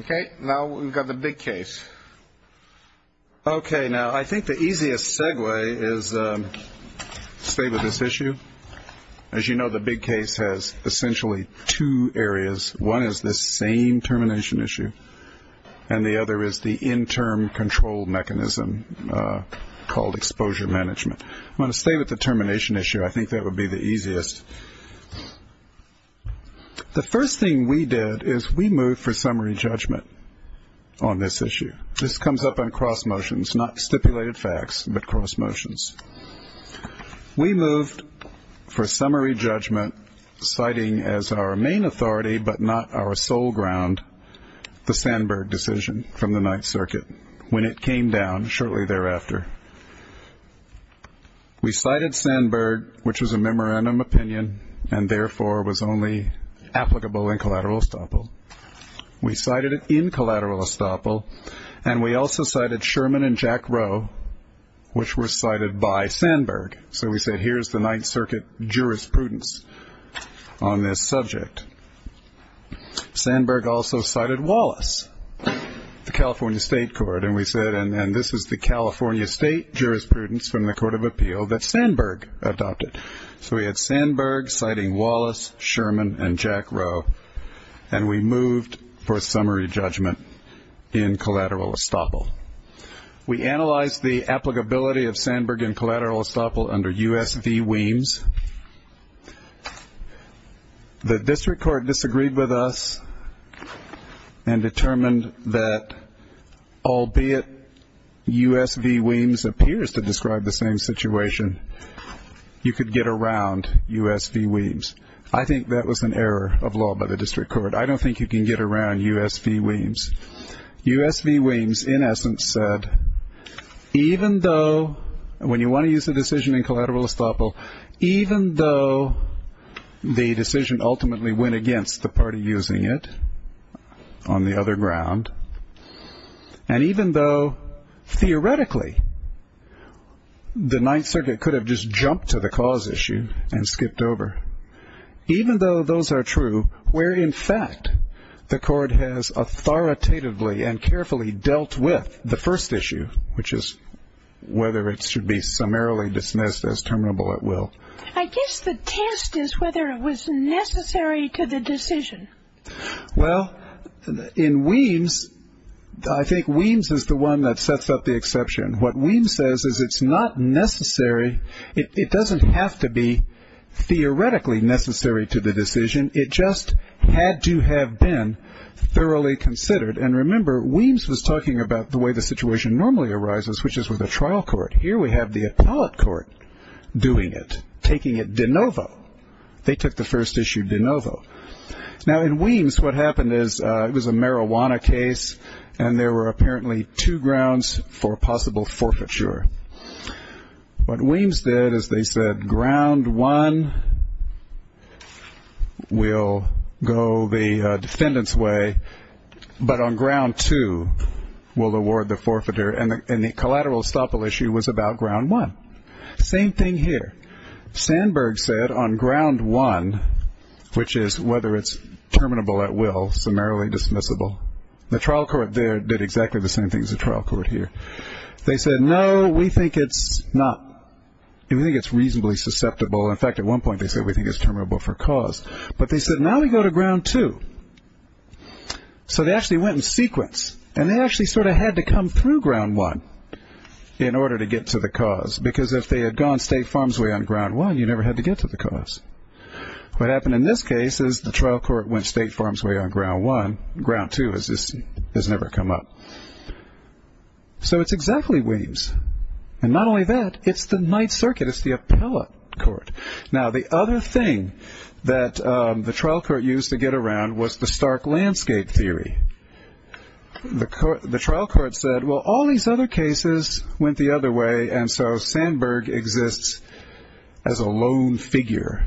Okay, now we've got the big case. Okay, now I think the easiest segue is to stay with this issue. As you know, the big case has essentially two areas. One is this same termination issue, and the other is the interim control mechanism called exposure management. I'm going to stay with the termination issue. I think that would be the easiest. The first thing we did is we moved for summary judgment on this issue. This comes up on cross motions, not stipulated facts, but cross motions. We moved for summary judgment citing as our main authority but not our sole ground the Sandberg decision from the Ninth Circuit when it came down shortly thereafter. We cited Sandberg, which was a memorandum opinion and therefore was only applicable in collateral estoppel. We cited it in collateral estoppel, and we also cited Sherman and Jack Rowe, which were cited by Sandberg. So we said here's the Ninth Circuit jurisprudence on this subject. Sandberg also cited Wallace, the California State Court, and we said, and this is the California State jurisprudence from the Court of Appeal that Sandberg adopted. So we had Sandberg citing Wallace, Sherman, and Jack Rowe, and we moved for summary judgment in collateral estoppel. We analyzed the applicability of Sandberg in collateral estoppel under U.S. v. Weems. The district court disagreed with us and determined that, albeit U.S. v. Weems appears to describe the same situation, you could get around U.S. v. Weems. I think that was an error of law by the district court. I don't think you can get around U.S. v. Weems. U.S. v. Weems, in essence, said, even though, when you want to use a decision in collateral estoppel, even though the decision ultimately went against the party using it on the other ground, and even though, theoretically, the Ninth Circuit could have just jumped to the cause issue and skipped over, even though those are true where, in fact, the court has authoritatively and carefully dealt with the first issue, which is whether it should be summarily dismissed as terminable at will. I guess the test is whether it was necessary to the decision. Well, in Weems, I think Weems is the one that sets up the exception. What Weems says is it's not necessary. It doesn't have to be theoretically necessary to the decision. It just had to have been thoroughly considered. And remember, Weems was talking about the way the situation normally arises, which is with a trial court. Here we have the appellate court doing it, taking it de novo. They took the first issue de novo. Now, in Weems, what happened is it was a marijuana case, and there were apparently two grounds for possible forfeiture. What Weems did is they said, on ground one, we'll go the defendant's way, but on ground two, we'll award the forfeiter. And the collateral estoppel issue was about ground one. Same thing here. Sandberg said on ground one, which is whether it's terminable at will, summarily dismissible. The trial court there did exactly the same thing as the trial court here. They said, no, we think it's not. We think it's reasonably susceptible. In fact, at one point they said we think it's terminable for cause. But they said, now we go to ground two. So they actually went in sequence, and they actually sort of had to come through ground one in order to get to the cause, because if they had gone State Farms Way on ground one, you never had to get to the cause. What happened in this case is the trial court went State Farms Way on ground one. Ground two has never come up. So it's exactly Williams. And not only that, it's the Ninth Circuit. It's the appellate court. Now, the other thing that the trial court used to get around was the stark landscape theory. The trial court said, well, all these other cases went the other way, and so Sandberg exists as a lone figure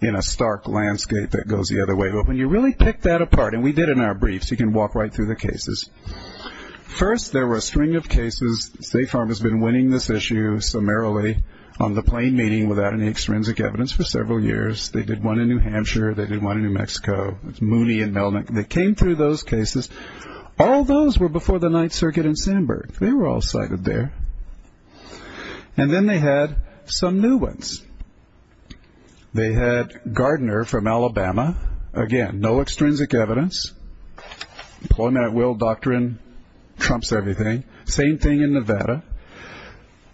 in a stark landscape that goes the other way. But when you really pick that apart, and we did in our briefs. You can walk right through the cases. First, there were a string of cases. State Farm has been winning this issue summarily on the plain meaning without any extrinsic evidence for several years. They did one in New Hampshire. They did one in New Mexico. It's Mooney and Melnick. They came through those cases. All those were before the Ninth Circuit and Sandberg. They were all cited there. And then they had some new ones. They had Gardner from Alabama. Again, no extrinsic evidence. Employment at will doctrine trumps everything. Same thing in Nevada.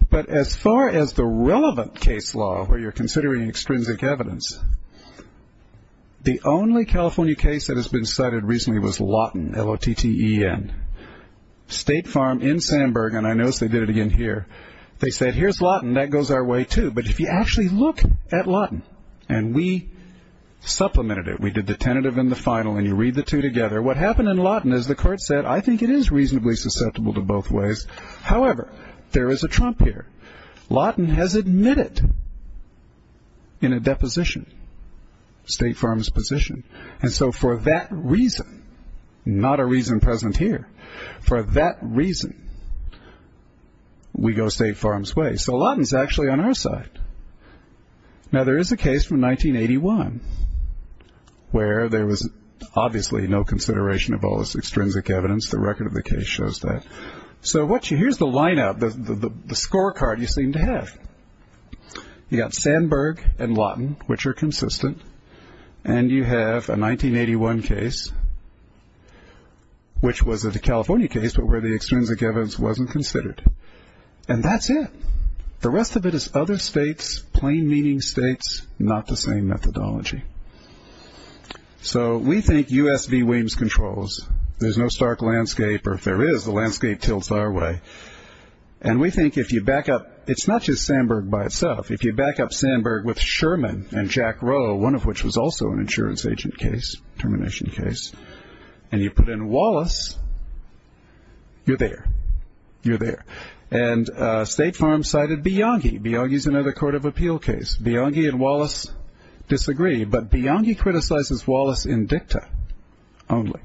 But as far as the relevant case law where you're considering extrinsic evidence, the only California case that has been cited recently was Lawton, L-O-T-T-E-N. State Farm in Sandberg, and I notice they did it again here. They said, here's Lawton. That goes our way too. But if you actually look at Lawton, and we supplemented it, we did the tentative and the final, and you read the two together, what happened in Lawton is the court said, I think it is reasonably susceptible to both ways. However, there is a trump here. Lawton has admitted in a deposition State Farm's position. And so for that reason, not a reason present here, for that reason, we go State Farm's way. So Lawton is actually on our side. Now, there is a case from 1981 where there was obviously no consideration of all this extrinsic evidence. The record of the case shows that. So here's the lineup, the scorecard you seem to have. You've got Sandberg and Lawton, which are consistent, and you have a 1981 case, which was a California case, but where the extrinsic evidence wasn't considered. And that's it. The rest of it is other states, plain-meaning states, not the same methodology. So we think U.S. v. Williams controls. There's no stark landscape, or if there is, the landscape tilts our way. And we think if you back up, it's not just Sandberg by itself. If you back up Sandberg with Sherman and Jack Rowe, one of which was also an insurance agent case, termination case, and you put in Wallace, you're there. And State Farm cited Bianchi. Bianchi is another court of appeal case. Bianchi and Wallace disagree, but Bianchi criticizes Wallace in dicta only.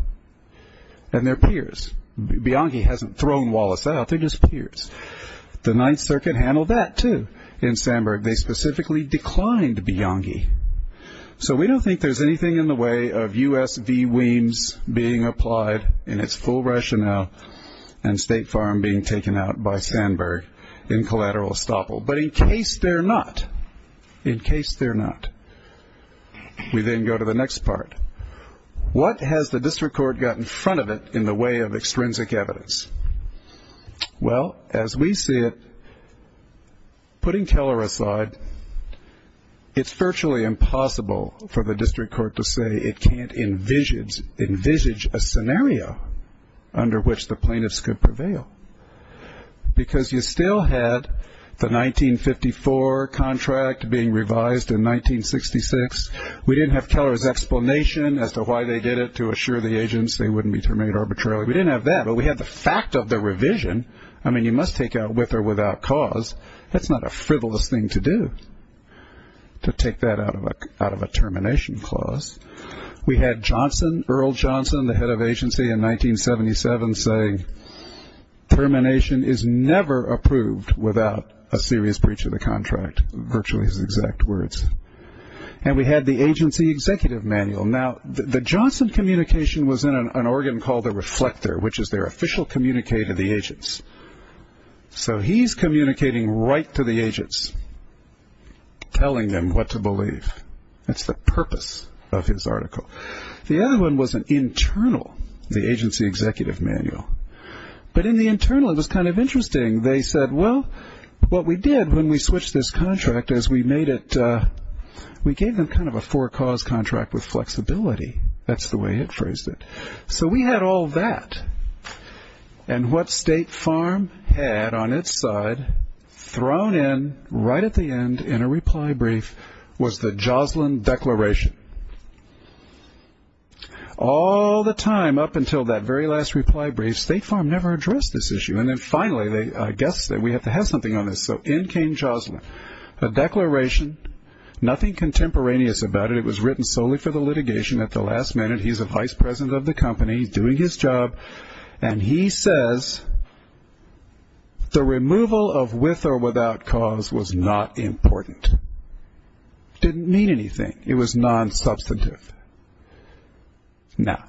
And they're peers. Bianchi hasn't thrown Wallace out. They're just peers. The Ninth Circuit handled that, too, in Sandberg. They specifically declined Bianchi. So we don't think there's anything in the way of U.S. v. Williams being applied in its full rationale and State Farm being taken out by Sandberg in collateral estoppel. But in case they're not, in case they're not, we then go to the next part. What has the district court got in front of it in the way of extrinsic evidence? Well, as we see it, putting Keller aside, it's virtually impossible for the district court to say it can't envisage a scenario under which the plaintiffs could prevail, because you still had the 1954 contract being revised in 1966. We didn't have Keller's explanation as to why they did it to assure the agents they wouldn't be terminated arbitrarily. We didn't have that, but we had the fact of the revision. I mean, you must take out with or without cause. That's not a frivolous thing to do, to take that out of a termination clause. We had Johnson, Earl Johnson, the head of agency in 1977, say termination is never approved without a serious breach of the contract, virtually his exact words. And we had the agency executive manual. Now, the Johnson communication was in an organ called the reflector, which is their official communique to the agents. So he's communicating right to the agents, telling them what to believe. That's the purpose of his article. The other one was an internal, the agency executive manual. But in the internal, it was kind of interesting. They said, well, what we did when we switched this contract is we made it, we gave them kind of a for-cause contract with flexibility. That's the way it phrased it. So we had all that. And what State Farm had on its side thrown in right at the end in a reply brief was the Joslin Declaration. All the time up until that very last reply brief, State Farm never addressed this issue. And then finally, I guess we have to have something on this. So in came Joslin, a declaration, nothing contemporaneous about it. It was written solely for the litigation at the last minute. He's a vice president of the company. He's doing his job. And he says the removal of with or without cause was not important. It didn't mean anything. It was non-substantive. Now,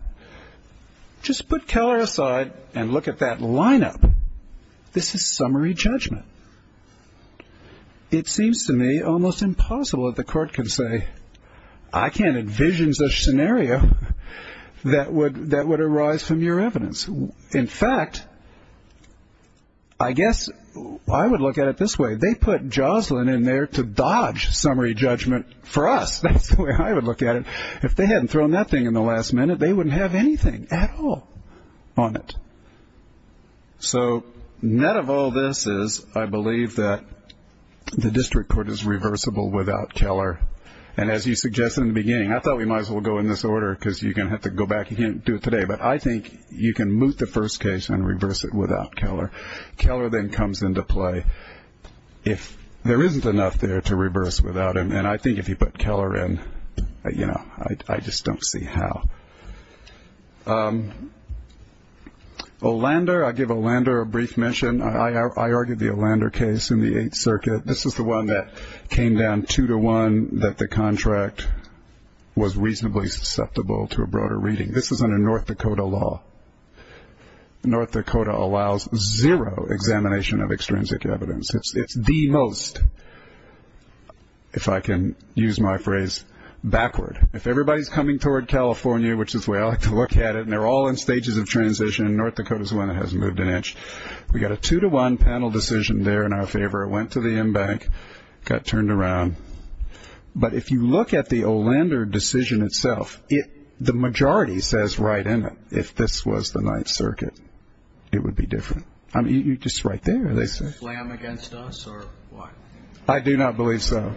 just put Keller aside and look at that lineup. This is summary judgment. It seems to me almost impossible that the court can say, I can't envision such scenario that would arise from your evidence. In fact, I guess I would look at it this way. They put Joslin in there to dodge summary judgment for us. That's the way I would look at it. If they hadn't thrown that thing in the last minute, they wouldn't have anything at all on it. So net of all this is I believe that the district court is reversible without Keller. And as you suggested in the beginning, I thought we might as well go in this order because you're going to have to go back and do it today. But I think you can moot the first case and reverse it without Keller. Keller then comes into play if there isn't enough there to reverse without him. And I think if you put Keller in, you know, I just don't see how. Olander, I give Olander a brief mention. I argued the Olander case in the Eighth Circuit. This is the one that came down two to one that the contract was reasonably susceptible to a broader reading. This was under North Dakota law. North Dakota allows zero examination of extrinsic evidence. It's the most, if I can use my phrase, backward. If everybody's coming toward California, which is the way I like to look at it, and they're all in stages of transition, and North Dakota's the one that hasn't moved an inch. We got a two to one panel decision there in our favor. It went to the M-Bank, got turned around. But if you look at the Olander decision itself, the majority says right in it. If this was the Ninth Circuit, it would be different. You're just right there. They slam against us or what? I do not believe so.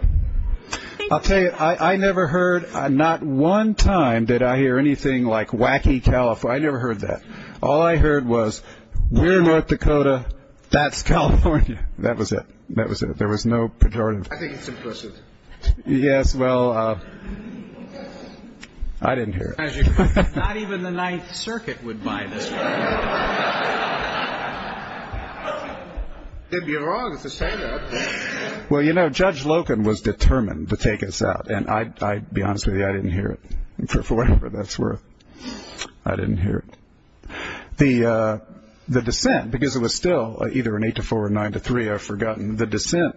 I'll tell you, I never heard, not one time did I hear anything like wacky California. I never heard that. All I heard was we're North Dakota, that's California. That was it. That was it. There was no pejorative. I think it's implicit. Yes, well, I didn't hear it. Not even the Ninth Circuit would buy this. It'd be wrong to say that. Well, you know, Judge Loken was determined to take us out. And I'll be honest with you, I didn't hear it. For whatever that's worth, I didn't hear it. The dissent, because it was still either an eight to four or nine to three, I've forgotten. The dissent,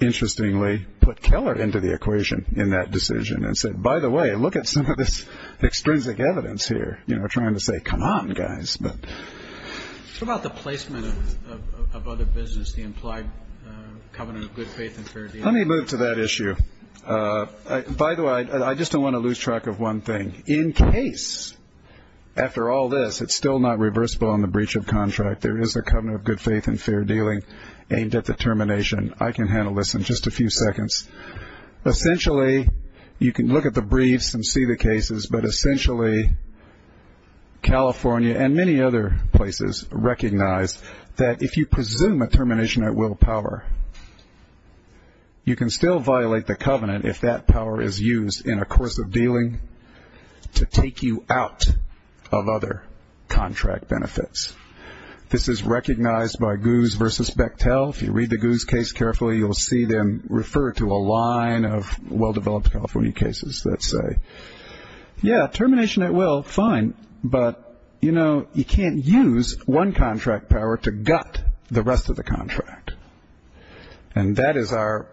interestingly, put Keller into the equation in that decision and said, by the way, look at some of this extrinsic evidence here. You know, trying to say, come on, guys. What about the placement of other business, the implied covenant of good faith and fair dealing? Let me move to that issue. By the way, I just don't want to lose track of one thing. In case, after all this, it's still not reversible on the breach of contract, there is a covenant of good faith and fair dealing aimed at the termination. I can handle this in just a few seconds. Essentially, you can look at the briefs and see the cases, but essentially, California and many other places recognize that if you presume a termination at will power, you can still violate the covenant if that power is used in a course of dealing to take you out of other contract benefits. This is recognized by Goose v. Bechtel. If you read the Goose case carefully, you'll see them refer to a line of well-developed California cases that say, yeah, termination at will, fine, but, you know, you can't use one contract power to gut the rest of the contract. And that is our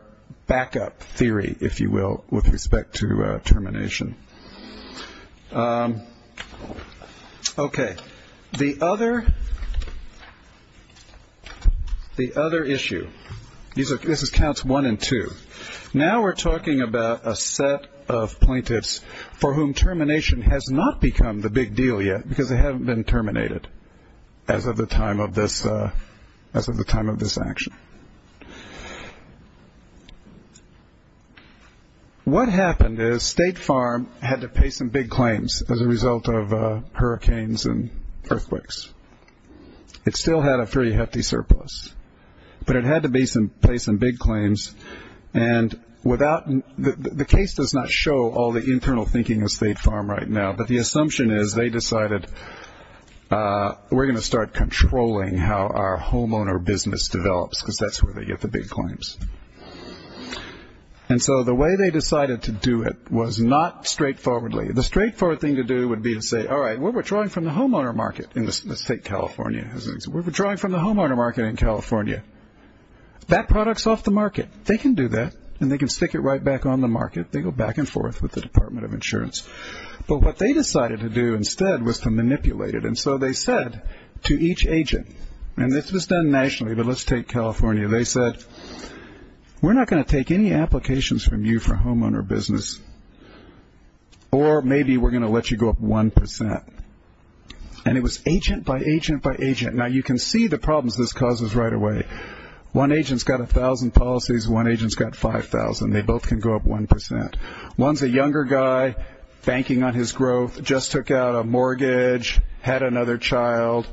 backup theory, if you will, with respect to termination. Okay. The other issue, this is counts one and two. Now we're talking about a set of plaintiffs for whom termination has not become the big deal yet because they haven't been terminated as of the time of this action. What happened is State Farm had to pay some big claims as a result of hurricanes and earthquakes. It still had a fairly hefty surplus, but it had to pay some big claims. And the case does not show all the internal thinking of State Farm right now, but the assumption is they decided we're going to start controlling how our homeowner business develops because that's where they get the big claims. And so the way they decided to do it was not straightforwardly. The straightforward thing to do would be to say, all right, we're withdrawing from the homeowner market in the State of California. We're withdrawing from the homeowner market in California. That product's off the market. They can do that, and they can stick it right back on the market. They go back and forth with the Department of Insurance. But what they decided to do instead was to manipulate it. And so they said to each agent, and this was done nationally, but let's take California. They said, we're not going to take any applications from you for homeowner business, or maybe we're going to let you go up 1%. And it was agent by agent by agent. Now, you can see the problems this causes right away. One agent's got 1,000 policies, one agent's got 5,000. They both can go up 1%. One's a younger guy banking on his growth, just took out a mortgage, had another child.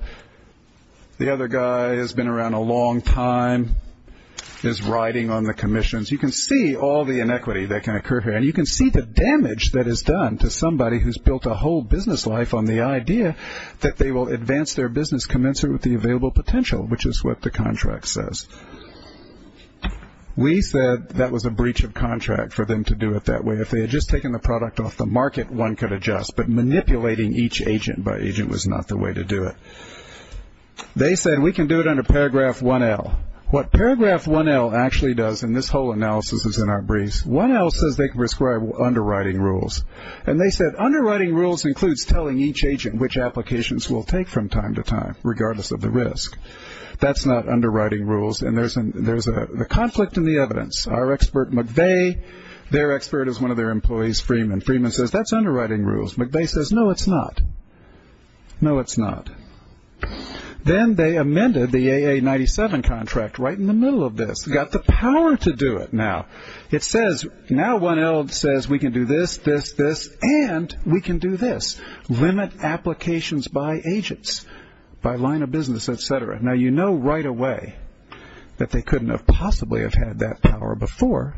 The other guy has been around a long time, is riding on the commissions. You can see all the inequity that can occur here, and you can see the damage that is done to somebody who's built a whole business life on the idea that they will advance their business commensurate with the available potential, which is what the contract says. We said that was a breach of contract for them to do it that way. If they had just taken the product off the market, one could adjust, but manipulating each agent by agent was not the way to do it. They said, we can do it under paragraph 1L. What paragraph 1L actually does, and this whole analysis is in our briefs, 1L says they prescribe underwriting rules, and they said, underwriting rules includes telling each agent which applications we'll take from time to time, regardless of the risk. That's not underwriting rules, and there's a conflict in the evidence. Our expert, McVeigh, their expert is one of their employees, Freeman. Freeman says, that's underwriting rules. McVeigh says, no, it's not. No, it's not. Then they amended the AA-97 contract right in the middle of this. Got the power to do it now. It says, now 1L says we can do this, this, this, and we can do this. Limit applications by agents, by line of business, et cetera. Now, you know right away that they couldn't have possibly have had that power before,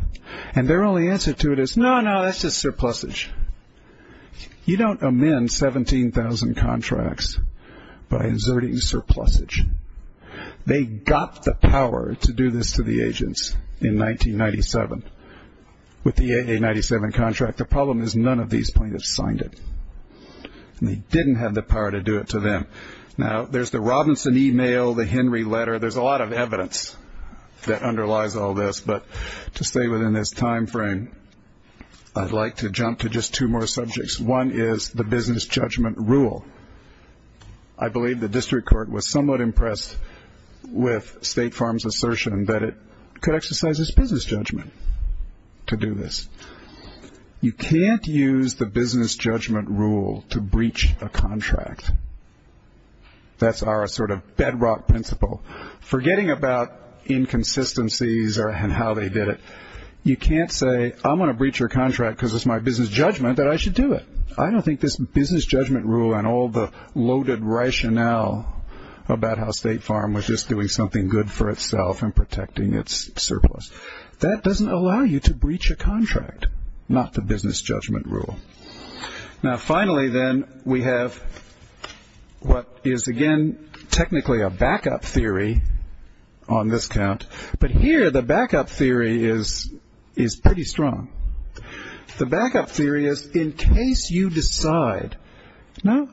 and their only answer to it is, no, no, that's just surplusage. You don't amend 17,000 contracts by inserting surplusage. They got the power to do this to the agents in 1997 with the AA-97 contract. The problem is none of these plaintiffs signed it, and they didn't have the power to do it to them. Now, there's the Robinson email, the Henry letter. There's a lot of evidence that underlies all this. But to stay within this time frame, I'd like to jump to just two more subjects. One is the business judgment rule. I believe the district court was somewhat impressed with State Farm's assertion that it could exercise its business judgment to do this. You can't use the business judgment rule to breach a contract. That's our sort of bedrock principle. Forgetting about inconsistencies and how they did it, you can't say, I'm going to breach your contract because it's my business judgment that I should do it. I don't think this business judgment rule and all the loaded rationale about how State Farm was just doing something good for itself and protecting its surplus. That doesn't allow you to breach a contract, not the business judgment rule. Now, finally, then, we have what is, again, technically a backup theory on this count. But here, the backup theory is pretty strong. The backup theory is in case you decide, no,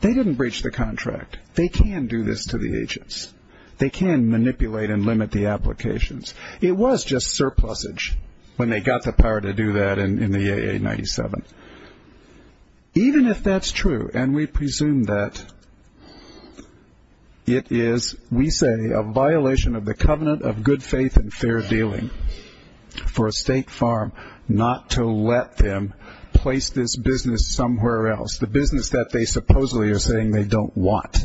they didn't breach the contract. They can do this to the agents. They can manipulate and limit the applications. It was just surplusage when they got the power to do that in the AA97. Even if that's true, and we presume that, it is, we say, a violation of the covenant of good faith and fair dealing for a State Farm not to let them place this business somewhere else, the business that they supposedly are saying they don't want.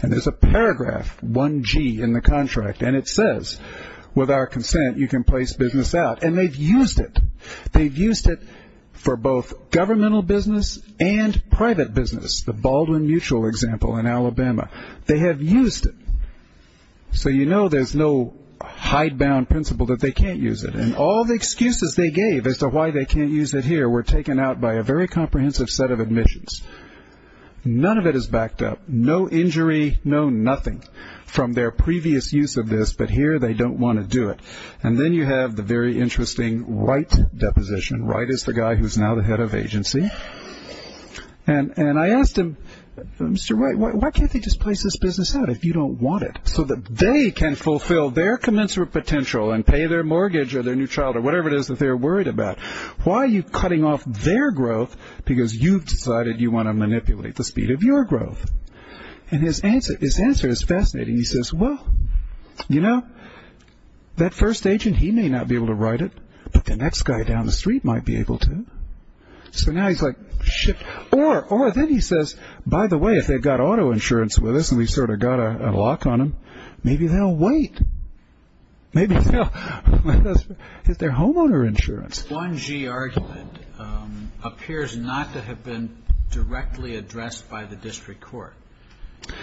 And there's a paragraph, 1G, in the contract, and it says, with our consent, you can place business out. And they've used it. They've used it for both governmental business and private business, the Baldwin Mutual example in Alabama. They have used it. So you know there's no hidebound principle that they can't use it. And all the excuses they gave as to why they can't use it here were taken out by a very comprehensive set of admissions. None of it is backed up. No injury, no nothing from their previous use of this, but here they don't want to do it. And then you have the very interesting Wright deposition. Wright is the guy who's now the head of agency. And I asked him, Mr. Wright, why can't they just place this business out if you don't want it, so that they can fulfill their commensurate potential and pay their mortgage or their new child or whatever it is that they're worried about. Why are you cutting off their growth because you've decided you want to manipulate the speed of your growth? And his answer is fascinating. He says, well, you know, that first agent, he may not be able to write it, but the next guy down the street might be able to. So now he's like, shit. Or then he says, by the way, if they've got auto insurance with us and we've sort of got a lock on them, maybe they'll wait. Maybe they'll... It's their homeowner insurance. The 1G argument appears not to have been directly addressed by the district court.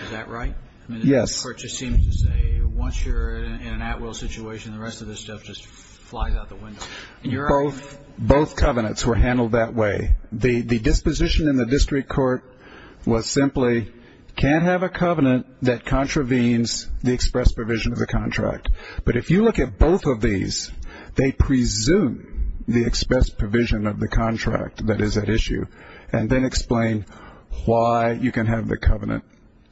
Is that right? Yes. The court just seems to say once you're in an at-will situation, the rest of this stuff just flies out the window. Both covenants were handled that way. The disposition in the district court was simply can't have a covenant that contravenes the express provision of the contract. But if you look at both of these, they presume the express provision of the contract that is at issue and then explain why you can have the covenant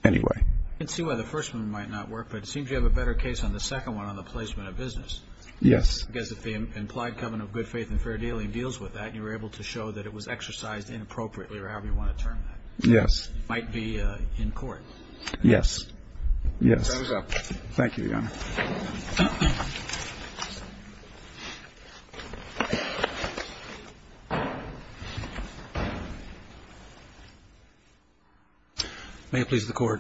anyway. I can see why the first one might not work, but it seems you have a better case on the second one on the placement of business. Yes. Because if the implied covenant of good faith and fair dealing deals with that, you were able to show that it was exercised inappropriately or however you want to term that. Yes. It might be in court. Yes. Thumbs up. Thank you, Your Honor. May it please the Court.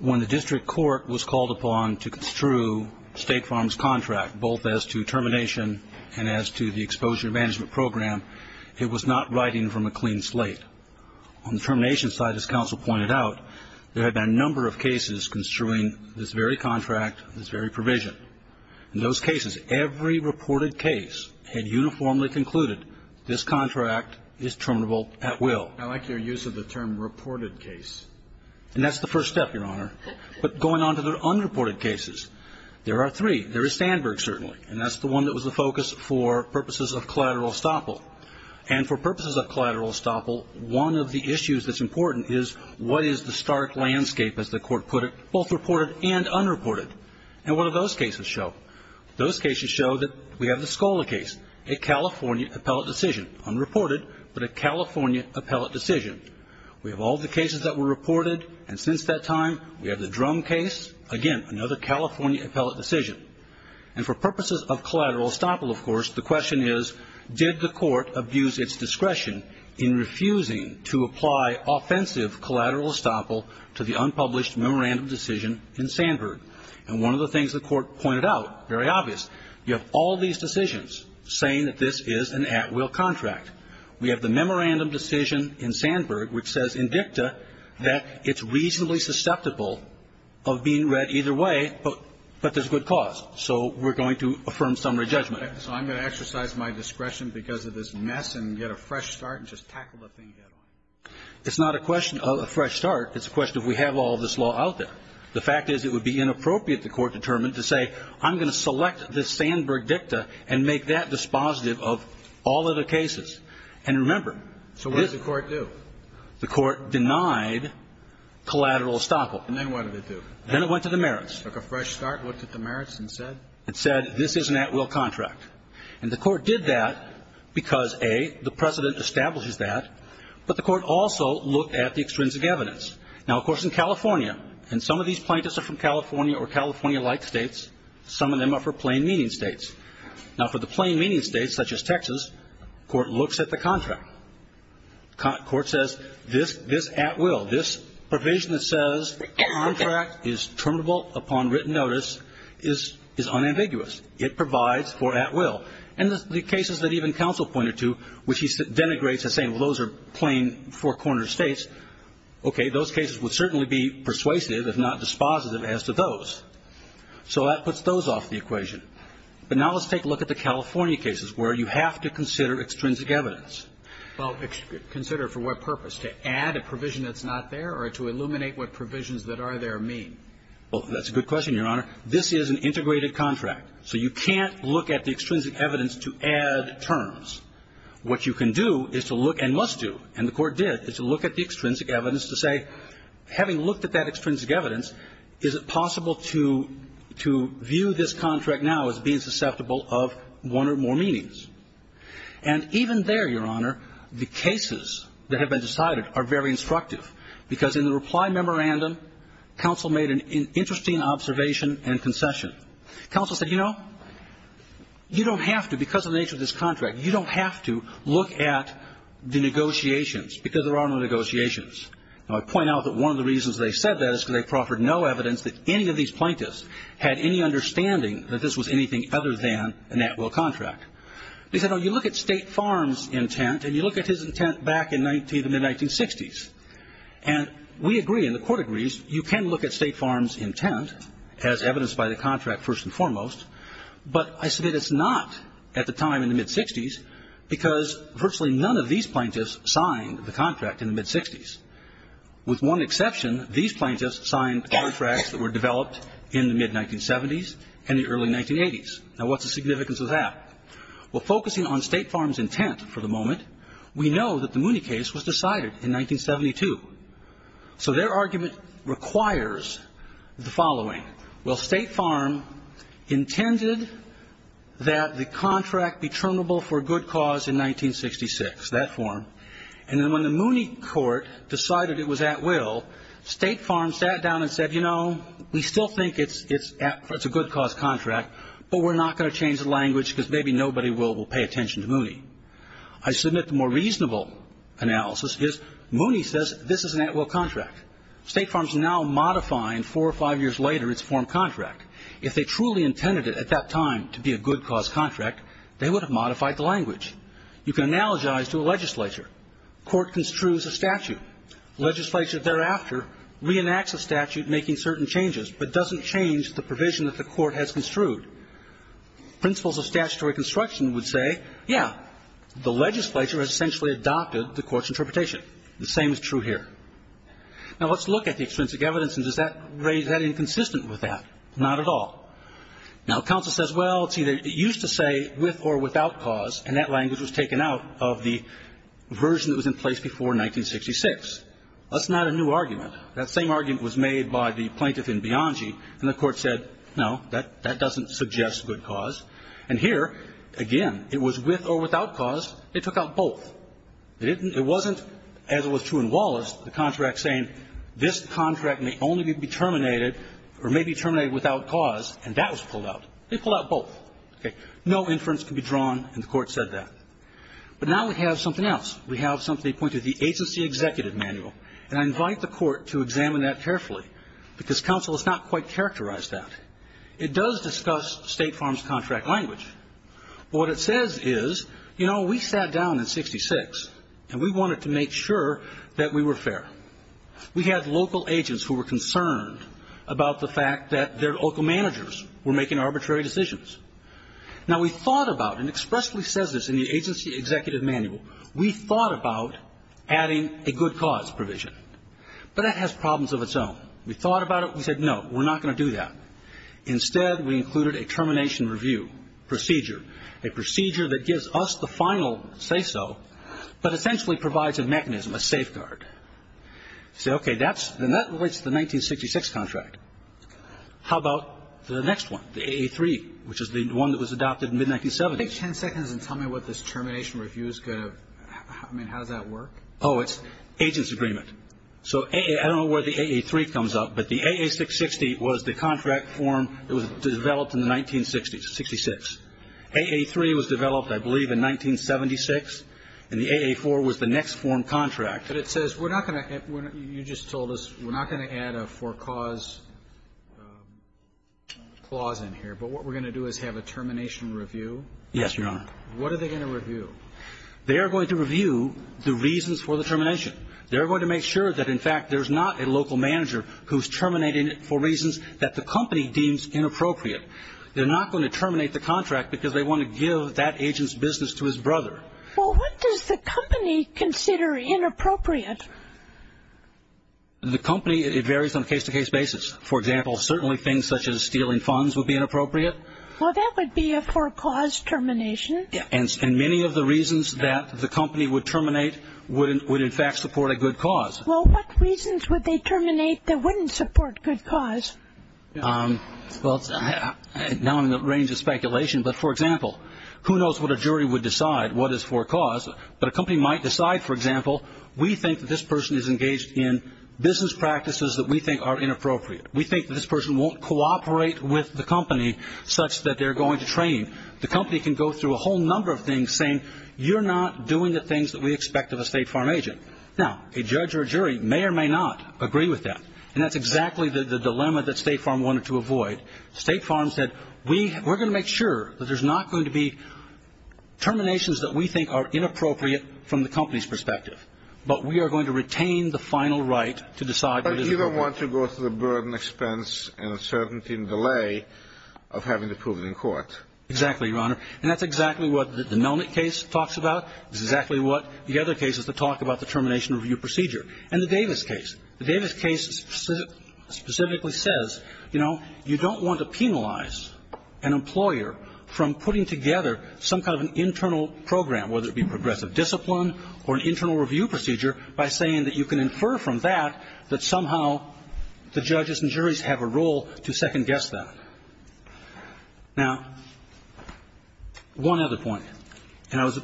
When the district court was called upon to construe State Farm's contract, both as to termination and as to the exposure management program, it was not writing from a clean slate. On the termination side, as counsel pointed out, there have been a number of cases construing this very contract, this very provision. In those cases, every reported case had uniformly concluded this contract is terminable at will. I like your use of the term reported case. And that's the first step, Your Honor. But going on to the unreported cases, there are three. There is Sandburg, certainly, and that's the one that was the focus for purposes of collateral estoppel. And for purposes of collateral estoppel, one of the issues that's important is what is the stark landscape, as the Court put it, both reported and unreported. And what do those cases show? Those cases show that we have the Scola case, a California appellate decision, unreported, but a California appellate decision. We have all the cases that were reported, and since that time, we have the Drum case, again, another California appellate decision. And for purposes of collateral estoppel, of course, the question is, did the Court abuse its discretion in refusing to apply offensive collateral estoppel to the unpublished memorandum decision in Sandburg? And one of the things the Court pointed out, very obvious, you have all these decisions saying that this is an at-will contract. We have the memorandum decision in Sandburg which says in dicta that it's reasonably susceptible of being read either way, but there's good cause. So we're going to affirm summary judgment. So I'm going to exercise my discretion because of this mess and get a fresh start and just tackle the thing and get on with it. It's not a question of a fresh start. It's a question of we have all this law out there. The fact is it would be inappropriate, the Court determined, to say, I'm going to select this Sandburg dicta and make that dispositive of all of the cases. And remember, this one. So what did the Court do? The Court denied collateral estoppel. And then what did it do? Then it went to the merits. It took a fresh start, looked at the merits, and said? It said this is an at-will contract. And the Court did that because, A, the precedent establishes that. But the Court also looked at the extrinsic evidence. Now, of course, in California, and some of these plaintiffs are from California or California-like states, some of them are for plain-meaning states. Now, for the plain-meaning states such as Texas, the Court looks at the contract. The Court says this at-will, this provision that says the contract is terminable upon written notice is unambiguous. It provides for at-will. And the cases that even counsel pointed to, which he denigrates as saying, well, those are plain, four-corner states, okay, those cases would certainly be persuasive if not dispositive as to those. So that puts those off the equation. But now let's take a look at the California cases where you have to consider extrinsic evidence. Roberts. Well, consider for what purpose? To add a provision that's not there or to illuminate what provisions that are there mean. Well, that's a good question, Your Honor. This is an integrated contract. So you can't look at the extrinsic evidence to add terms. What you can do is to look, and must do, and the Court did, is to look at the extrinsic evidence to say, having looked at that extrinsic evidence, is it possible to view this contract now as being susceptible of one or more meanings? And even there, Your Honor, the cases that have been decided are very instructive because in the reply memorandum, counsel made an interesting observation and concession. Counsel said, you know, you don't have to, because of the nature of this contract, you don't have to look at the negotiations because there are no negotiations. Now, I point out that one of the reasons they said that is because they proffered no evidence that any of these plaintiffs had any understanding that this was anything other than a Nat Will contract. They said, oh, you look at State Farm's intent and you look at his intent back in the mid-1960s. And we agree, and the Court agrees, you can look at State Farm's intent as evidenced by the contract first and foremost, but I say that it's not at the time in the mid-60s because virtually none of these plaintiffs signed the contract in the mid-60s. With one exception, these plaintiffs signed contracts that were developed in the mid-1970s and the early 1980s. Now, what's the significance of that? Well, focusing on State Farm's intent for the moment, we know that the Mooney case was decided in 1972. So their argument requires the following. Well, State Farm intended that the contract be terminable for good cause in 1966, that form, and then when the Mooney court decided it was at will, State Farm sat down and said, you know, we still think it's a good cause contract, but we're not going to do it, and maybe nobody will pay attention to Mooney. I submit the more reasonable analysis is Mooney says this is an at will contract. State Farm's now modifying four or five years later its form contract. If they truly intended it at that time to be a good cause contract, they would have modified the language. You can analogize to a legislature. Court construes a statute. Legislature thereafter reenacts a statute making certain changes, but doesn't change the provision that the court has construed. Principles of statutory construction would say, yeah, the legislature has essentially adopted the court's interpretation. The same is true here. Now, let's look at the extrinsic evidence, and is that inconsistent with that? Not at all. Now, counsel says, well, it used to say with or without cause, and that language was taken out of the version that was in place before 1966. That's not a new argument. That same argument was made by the plaintiff in Bianchi, and the court said, no, that doesn't suggest good cause. And here, again, it was with or without cause. They took out both. It wasn't, as was true in Wallace, the contract saying this contract may only be terminated or may be terminated without cause, and that was pulled out. They pulled out both. Okay. No inference can be drawn, and the court said that. But now we have something else. We have something that pointed to the agency executive manual, and I invite the court to examine that carefully, because counsel has not quite characterized that. It does discuss state farms contract language, but what it says is, you know, we sat down in 1966, and we wanted to make sure that we were fair. We had local agents who were concerned about the fact that their local managers were making arbitrary decisions. Now, we thought about, and expressly says this in the agency executive manual, we thought about adding a good cause provision, but that has problems of its own. We thought about it. We said no. We're not going to do that. Instead, we included a termination review procedure, a procedure that gives us the final say-so, but essentially provides a mechanism, a safeguard. You say, okay, that relates to the 1966 contract. How about the next one, the AA3, which is the one that was adopted in mid-1970s? Take ten seconds and tell me what this termination review is going to – I mean, how does that work? Oh, it's agents' agreement. So I don't know where the AA3 comes up, but the AA660 was the contract form that was developed in the 1960s, 66. AA3 was developed, I believe, in 1976, and the AA4 was the next form contract. But it says we're not going to – you just told us we're not going to add a for cause clause in here, but what we're going to do is have a termination review? Yes, Your Honor. What are they going to review? They are going to review the reasons for the termination. They're going to make sure that, in fact, there's not a local manager who's terminating it for reasons that the company deems inappropriate. They're not going to terminate the contract because they want to give that agent's business to his brother. Well, what does the company consider inappropriate? The company, it varies on a case-to-case basis. For example, certainly things such as stealing funds would be inappropriate. Well, that would be a for cause termination. And many of the reasons that the company would terminate would, in fact, support a good cause. Well, what reasons would they terminate that wouldn't support good cause? Well, now I'm in the range of speculation. But, for example, who knows what a jury would decide what is for cause. But a company might decide, for example, we think that this person is engaged in business practices that we think are inappropriate. We think that this person won't cooperate with the company such that they're going to train. The company can go through a whole number of things saying, you're not doing the things that we expect of a State Farm agent. Now, a judge or a jury may or may not agree with that. And that's exactly the dilemma that State Farm wanted to avoid. State Farm said, we're going to make sure that there's not going to be terminations that we think are inappropriate from the company's perspective. But we are going to retain the final right to decide what is appropriate. But you don't want to go through the burden, expense, and uncertainty and delay of having to prove it in court. Exactly, Your Honor. And that's exactly what the Melnick case talks about. It's exactly what the other cases that talk about the termination review procedure. And the Davis case. The Davis case specifically says, you know, you don't want to penalize an employer from putting together some kind of an internal program, whether it be progressive discipline or an internal review procedure, by saying that you can infer from that that somehow the judges and juries have a role to second-guess that. Now, one other point. And I was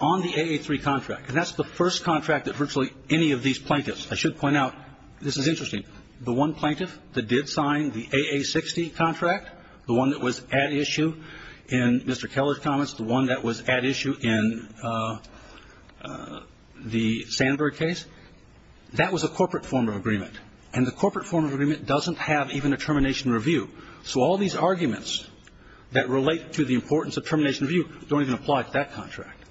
on the AA3 contract. And that's the first contract that virtually any of these plaintiffs, I should point out, this is interesting, the one plaintiff that did sign the AA60 contract, the one that was at issue in Mr. Keller's comments, the one that was at issue in the Sandberg case, that was a corporate form of agreement. And the corporate form of agreement doesn't have even a termination review. So all these arguments that relate to the importance of termination review don't even apply to that contract.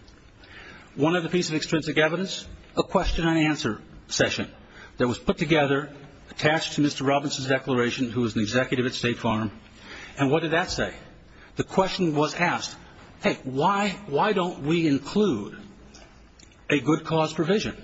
One other piece of extrinsic evidence, a question-and-answer session that was put together, attached to Mr. Robinson's declaration, who was an executive at State Farm. And what did that say? The question was asked, hey, why don't we include a good cause provision?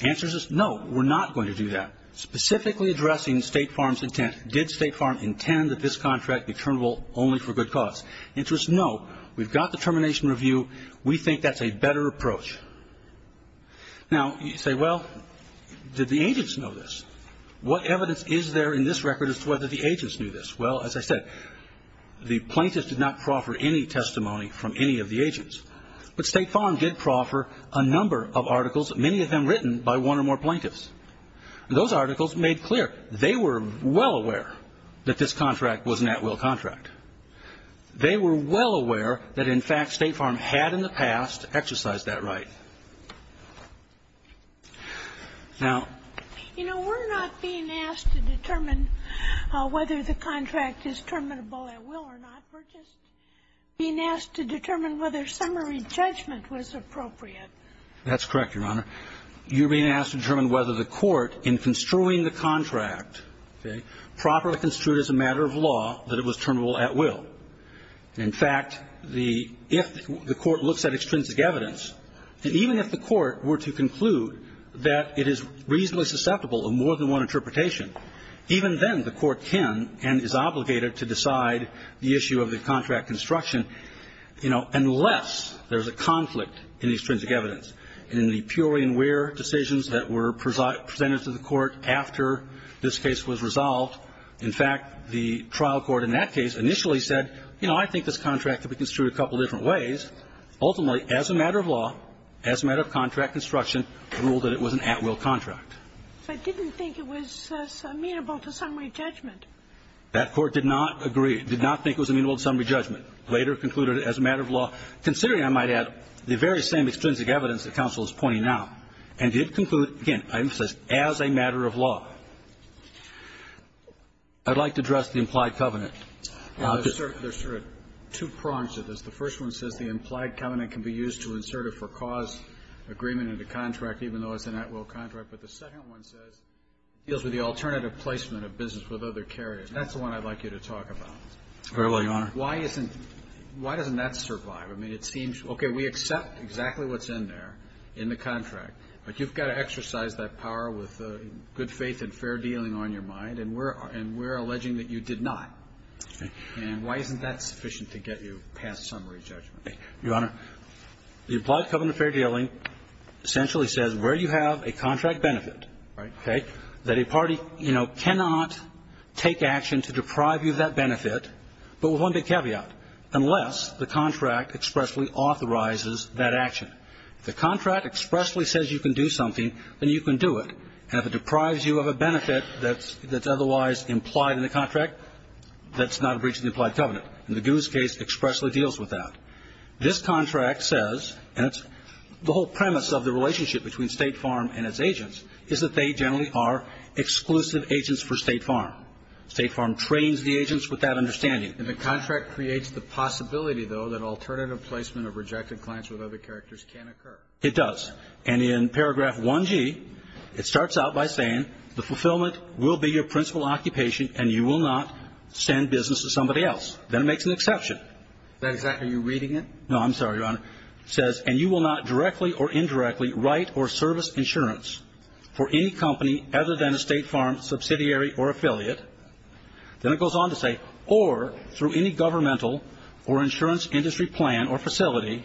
The answer is no, we're not going to do that. Specifically addressing State Farm's intent, did State Farm intend that this contract be terminable only for good cause? The answer is no. We've got the termination review. We think that's a better approach. Now, you say, well, did the agents know this? What evidence is there in this record as to whether the agents knew this? Well, as I said, the plaintiffs did not proffer any testimony from any of the agents. But State Farm did proffer a number of articles, many of them written by one or more plaintiffs. Those articles made clear they were well aware that this contract was an at-will contract. They were well aware that, in fact, State Farm had in the past exercised that right. Now ---- You know, we're not being asked to determine whether the contract is terminable at will or not. We're just being asked to determine whether summary judgment was appropriate. That's correct, Your Honor. You're being asked to determine whether the court, in construing the contract, okay, properly construed as a matter of law that it was terminable at will. In fact, the ---- if the court looks at extrinsic evidence, and even if the court were to conclude that it is reasonably susceptible of more than one interpretation, even then the court can and is obligated to decide the issue of the contract construction, you know, unless there's a conflict in the extrinsic evidence. In the purely in where decisions that were presented to the court after this case was resolved, in fact, the trial court in that case initially said, you know, I think this contract could be construed a couple different ways. Ultimately, as a matter of law, as a matter of contract construction, ruled that it was an at-will contract. I didn't think it was amenable to summary judgment. That court did not agree, did not think it was amenable to summary judgment, later concluded as a matter of law, considering, I might add, the very same extrinsic evidence that counsel is pointing out, and did conclude, again, as a matter of law. I'd like to address the implied covenant. There's sort of two prongs to this. The first one says the implied covenant can be used to insert a for-cause agreement into contract, even though it's an at-will contract. But the second one says it deals with the alternative placement of business with other carriers. That's the one I'd like you to talk about. Very well, Your Honor. Why doesn't that survive? I mean, it seems, okay, we accept exactly what's in there in the contract, but you've got to exercise that power with good faith and fair dealing on your mind, and we're alleging that you did not. And why isn't that sufficient to get you past summary judgment? Your Honor, the implied covenant of fair dealing essentially says where you have a contract benefit, okay, that a party, you know, cannot take action to deprive you of that benefit, but with one big caveat, unless the contract expressly authorizes that action. If the contract expressly says you can do something, then you can do it. And if it deprives you of a benefit that's otherwise implied in the contract, that's not a breach of the implied covenant. And the Gu's case expressly deals with that. This contract says, and it's the whole premise of the relationship between State Farm and its agents, is that they generally are exclusive agents for State Farm. State Farm trains the agents with that understanding. And the contract creates the possibility, though, that alternative placement of rejected clients with other characters can occur. It does. And in paragraph 1G, it starts out by saying the fulfillment will be your principal occupation and you will not send business to somebody else. Then it makes an exception. Is that exactly how you're reading it? No. I'm sorry, Your Honor. It says, and you will not directly or indirectly write or service insurance for any company other than a State Farm subsidiary or affiliate. Then it goes on to say, or through any governmental or insurance industry plan or facility,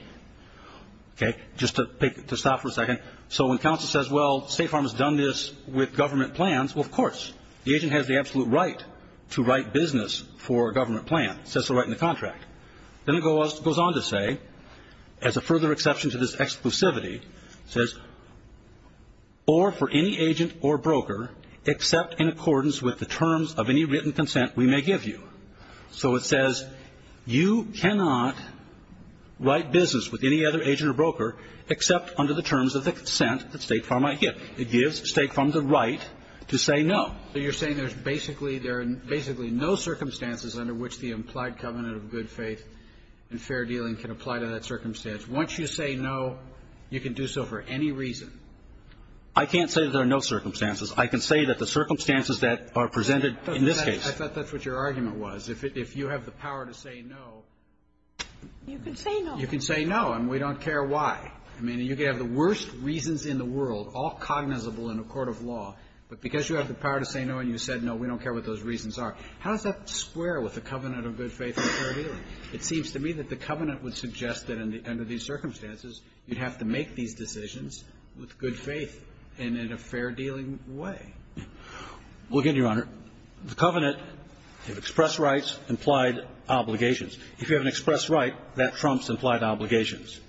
okay, just to stop for a second, so when counsel says, well, State Farm has done this with government plans, well, of course. The agent has the absolute right to write business for a government plan. It says so right in the contract. Then it goes on to say, as a further exception to this exclusivity, it says, or for any agent or broker except in accordance with the terms of any written consent we may give you. So it says you cannot write business with any other agent or broker except under the terms of the consent that State Farm might give. It gives State Farm the right to say no. So you're saying there's basically no circumstances under which the implied covenant of good faith and fair dealing can apply to that circumstance. Once you say no, you can do so for any reason. I can't say that there are no circumstances. I can say that the circumstances that are presented in this case. I thought that's what your argument was. If you have the power to say no. You can say no. You can say no, and we don't care why. I mean, you can have the worst reasons in the world, all cognizable in a court of law, but because you have the power to say no and you said no, we don't care what those reasons are. How does that square with the covenant of good faith and fair dealing? It seems to me that the covenant would suggest that under these circumstances you'd have to make these decisions with good faith and in a fair dealing way. Well, again, Your Honor, the covenant of express rights implied obligations. If you have an express right, that trumps implied obligations,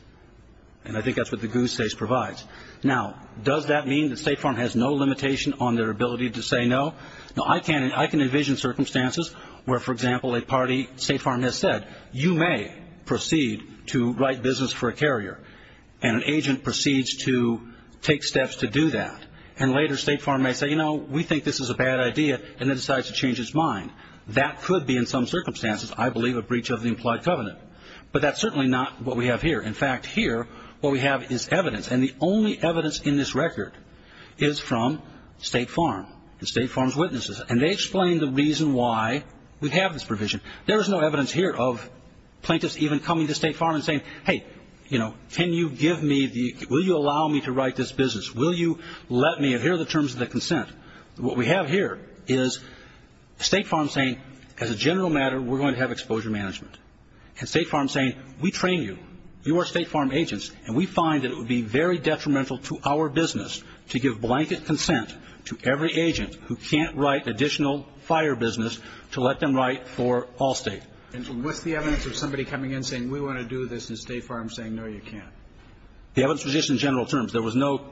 and I think that's what the goose case provides. Now, does that mean that State Farm has no limitation on their ability to say no? Now, I can envision circumstances where, for example, a party, State Farm has said, you may proceed to write business for a carrier, and an agent proceeds to take steps to do that, and later State Farm may say, you know, we think this is a bad idea, and then decides to change its mind. That could be in some circumstances, I believe, a breach of the implied covenant, but that's certainly not what we have here. In fact, here what we have is evidence, and the only evidence in this record is from State Farm and State Farm's witnesses, and they explain the reason why we have this provision. There is no evidence here of plaintiffs even coming to State Farm and saying, hey, you know, can you give me the, will you allow me to write this business? Will you let me? And here are the terms of the consent. What we have here is State Farm saying, as a general matter, we're going to have exposure management. And State Farm saying, we train you, you are State Farm agents, and we find that it would be very detrimental to our business to give blanket consent to every agent who can't write additional fire business to let them write for Allstate. And what's the evidence of somebody coming in saying, we want to do this, and State Farm saying, no, you can't? The evidence was just in general terms. There was no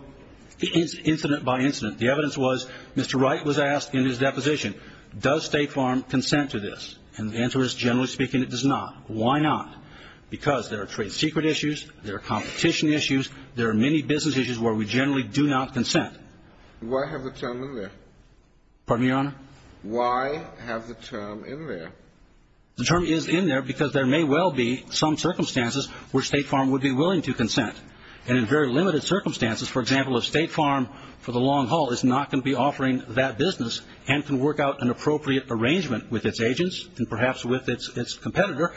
incident by incident. The evidence was Mr. Wright was asked in his deposition, does State Farm consent to this? And the answer is, generally speaking, it does not. Why not? Because there are trade secret issues, there are competition issues, there are many business issues where we generally do not consent. Why have the term in there? Pardon me, Your Honor? Why have the term in there? The term is in there because there may well be some circumstances where State Farm would be willing to consent. And in very limited circumstances, for example, if State Farm for the long haul is not going to be offering that business and can work out an appropriate arrangement with its agents and perhaps with its competitor,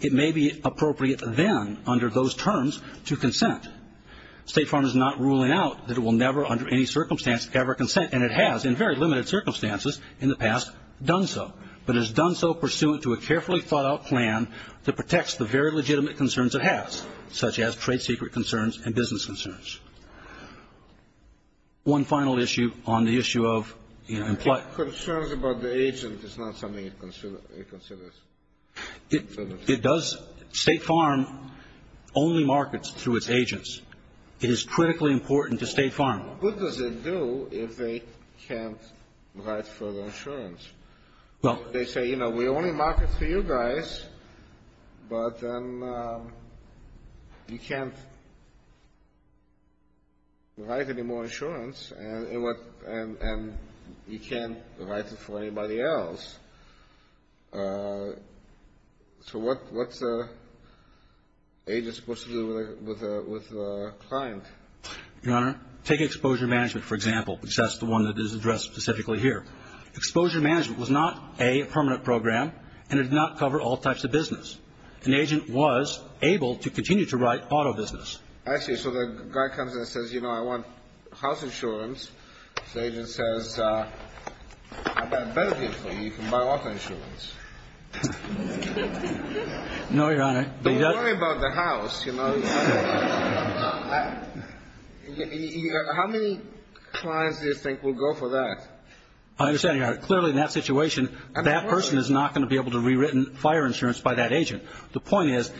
it may be appropriate then under those terms to consent. State Farm is not ruling out that it will never under any circumstance ever consent, and it has in very limited circumstances in the past done so. But it has done so pursuant to a carefully thought out plan that protects the very legitimate concerns it has, such as trade secret concerns and business concerns. One final issue on the issue of employment. Concerns about the agent is not something it considers. It does. State Farm only markets through its agents. It is critically important to State Farm. What does it do if they can't write further insurance? They say, you know, we only market for you guys, but then you can't write any more insurance and you can't write it for anybody else. So what's an agent supposed to do with a client? Your Honor, take exposure management, for example, because that's the one that is addressed specifically here. Exposure management was not a permanent program, and it did not cover all types of business. An agent was able to continue to write auto business. Actually, so the guy comes and says, you know, I want house insurance. The agent says, I've got a better deal for you. You can buy auto insurance. No, Your Honor. Don't worry about the house, you know. How many clients do you think will go for that? I understand, Your Honor. Clearly, in that situation, that person is not going to be able to rewrite fire insurance by that agent. The point is,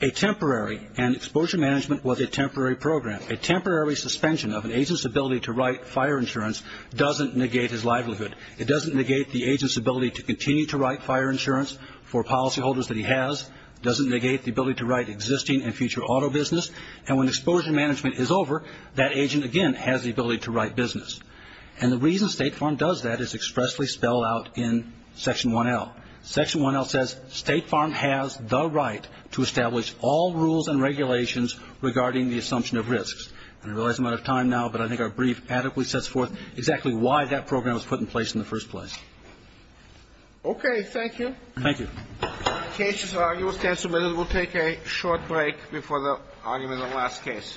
a temporary, and exposure management was a temporary program, a temporary suspension of an agent's ability to write fire insurance doesn't negate his livelihood. It doesn't negate the agent's ability to continue to write fire insurance for policyholders that he has. It doesn't negate the ability to write existing and future auto business. And when exposure management is over, that agent, again, has the ability to write business. And the reason State Farm does that is expressly spelled out in Section 1L. Section 1L says State Farm has the right to establish all rules and regulations regarding the assumption of risks. And I realize I'm out of time now, but I think our brief adequately sets forth exactly why that program was put in place in the first place. Okay. Thank you. Thank you. The case is argued and submitted. We'll take a short break before the argument of the last case. Thank you.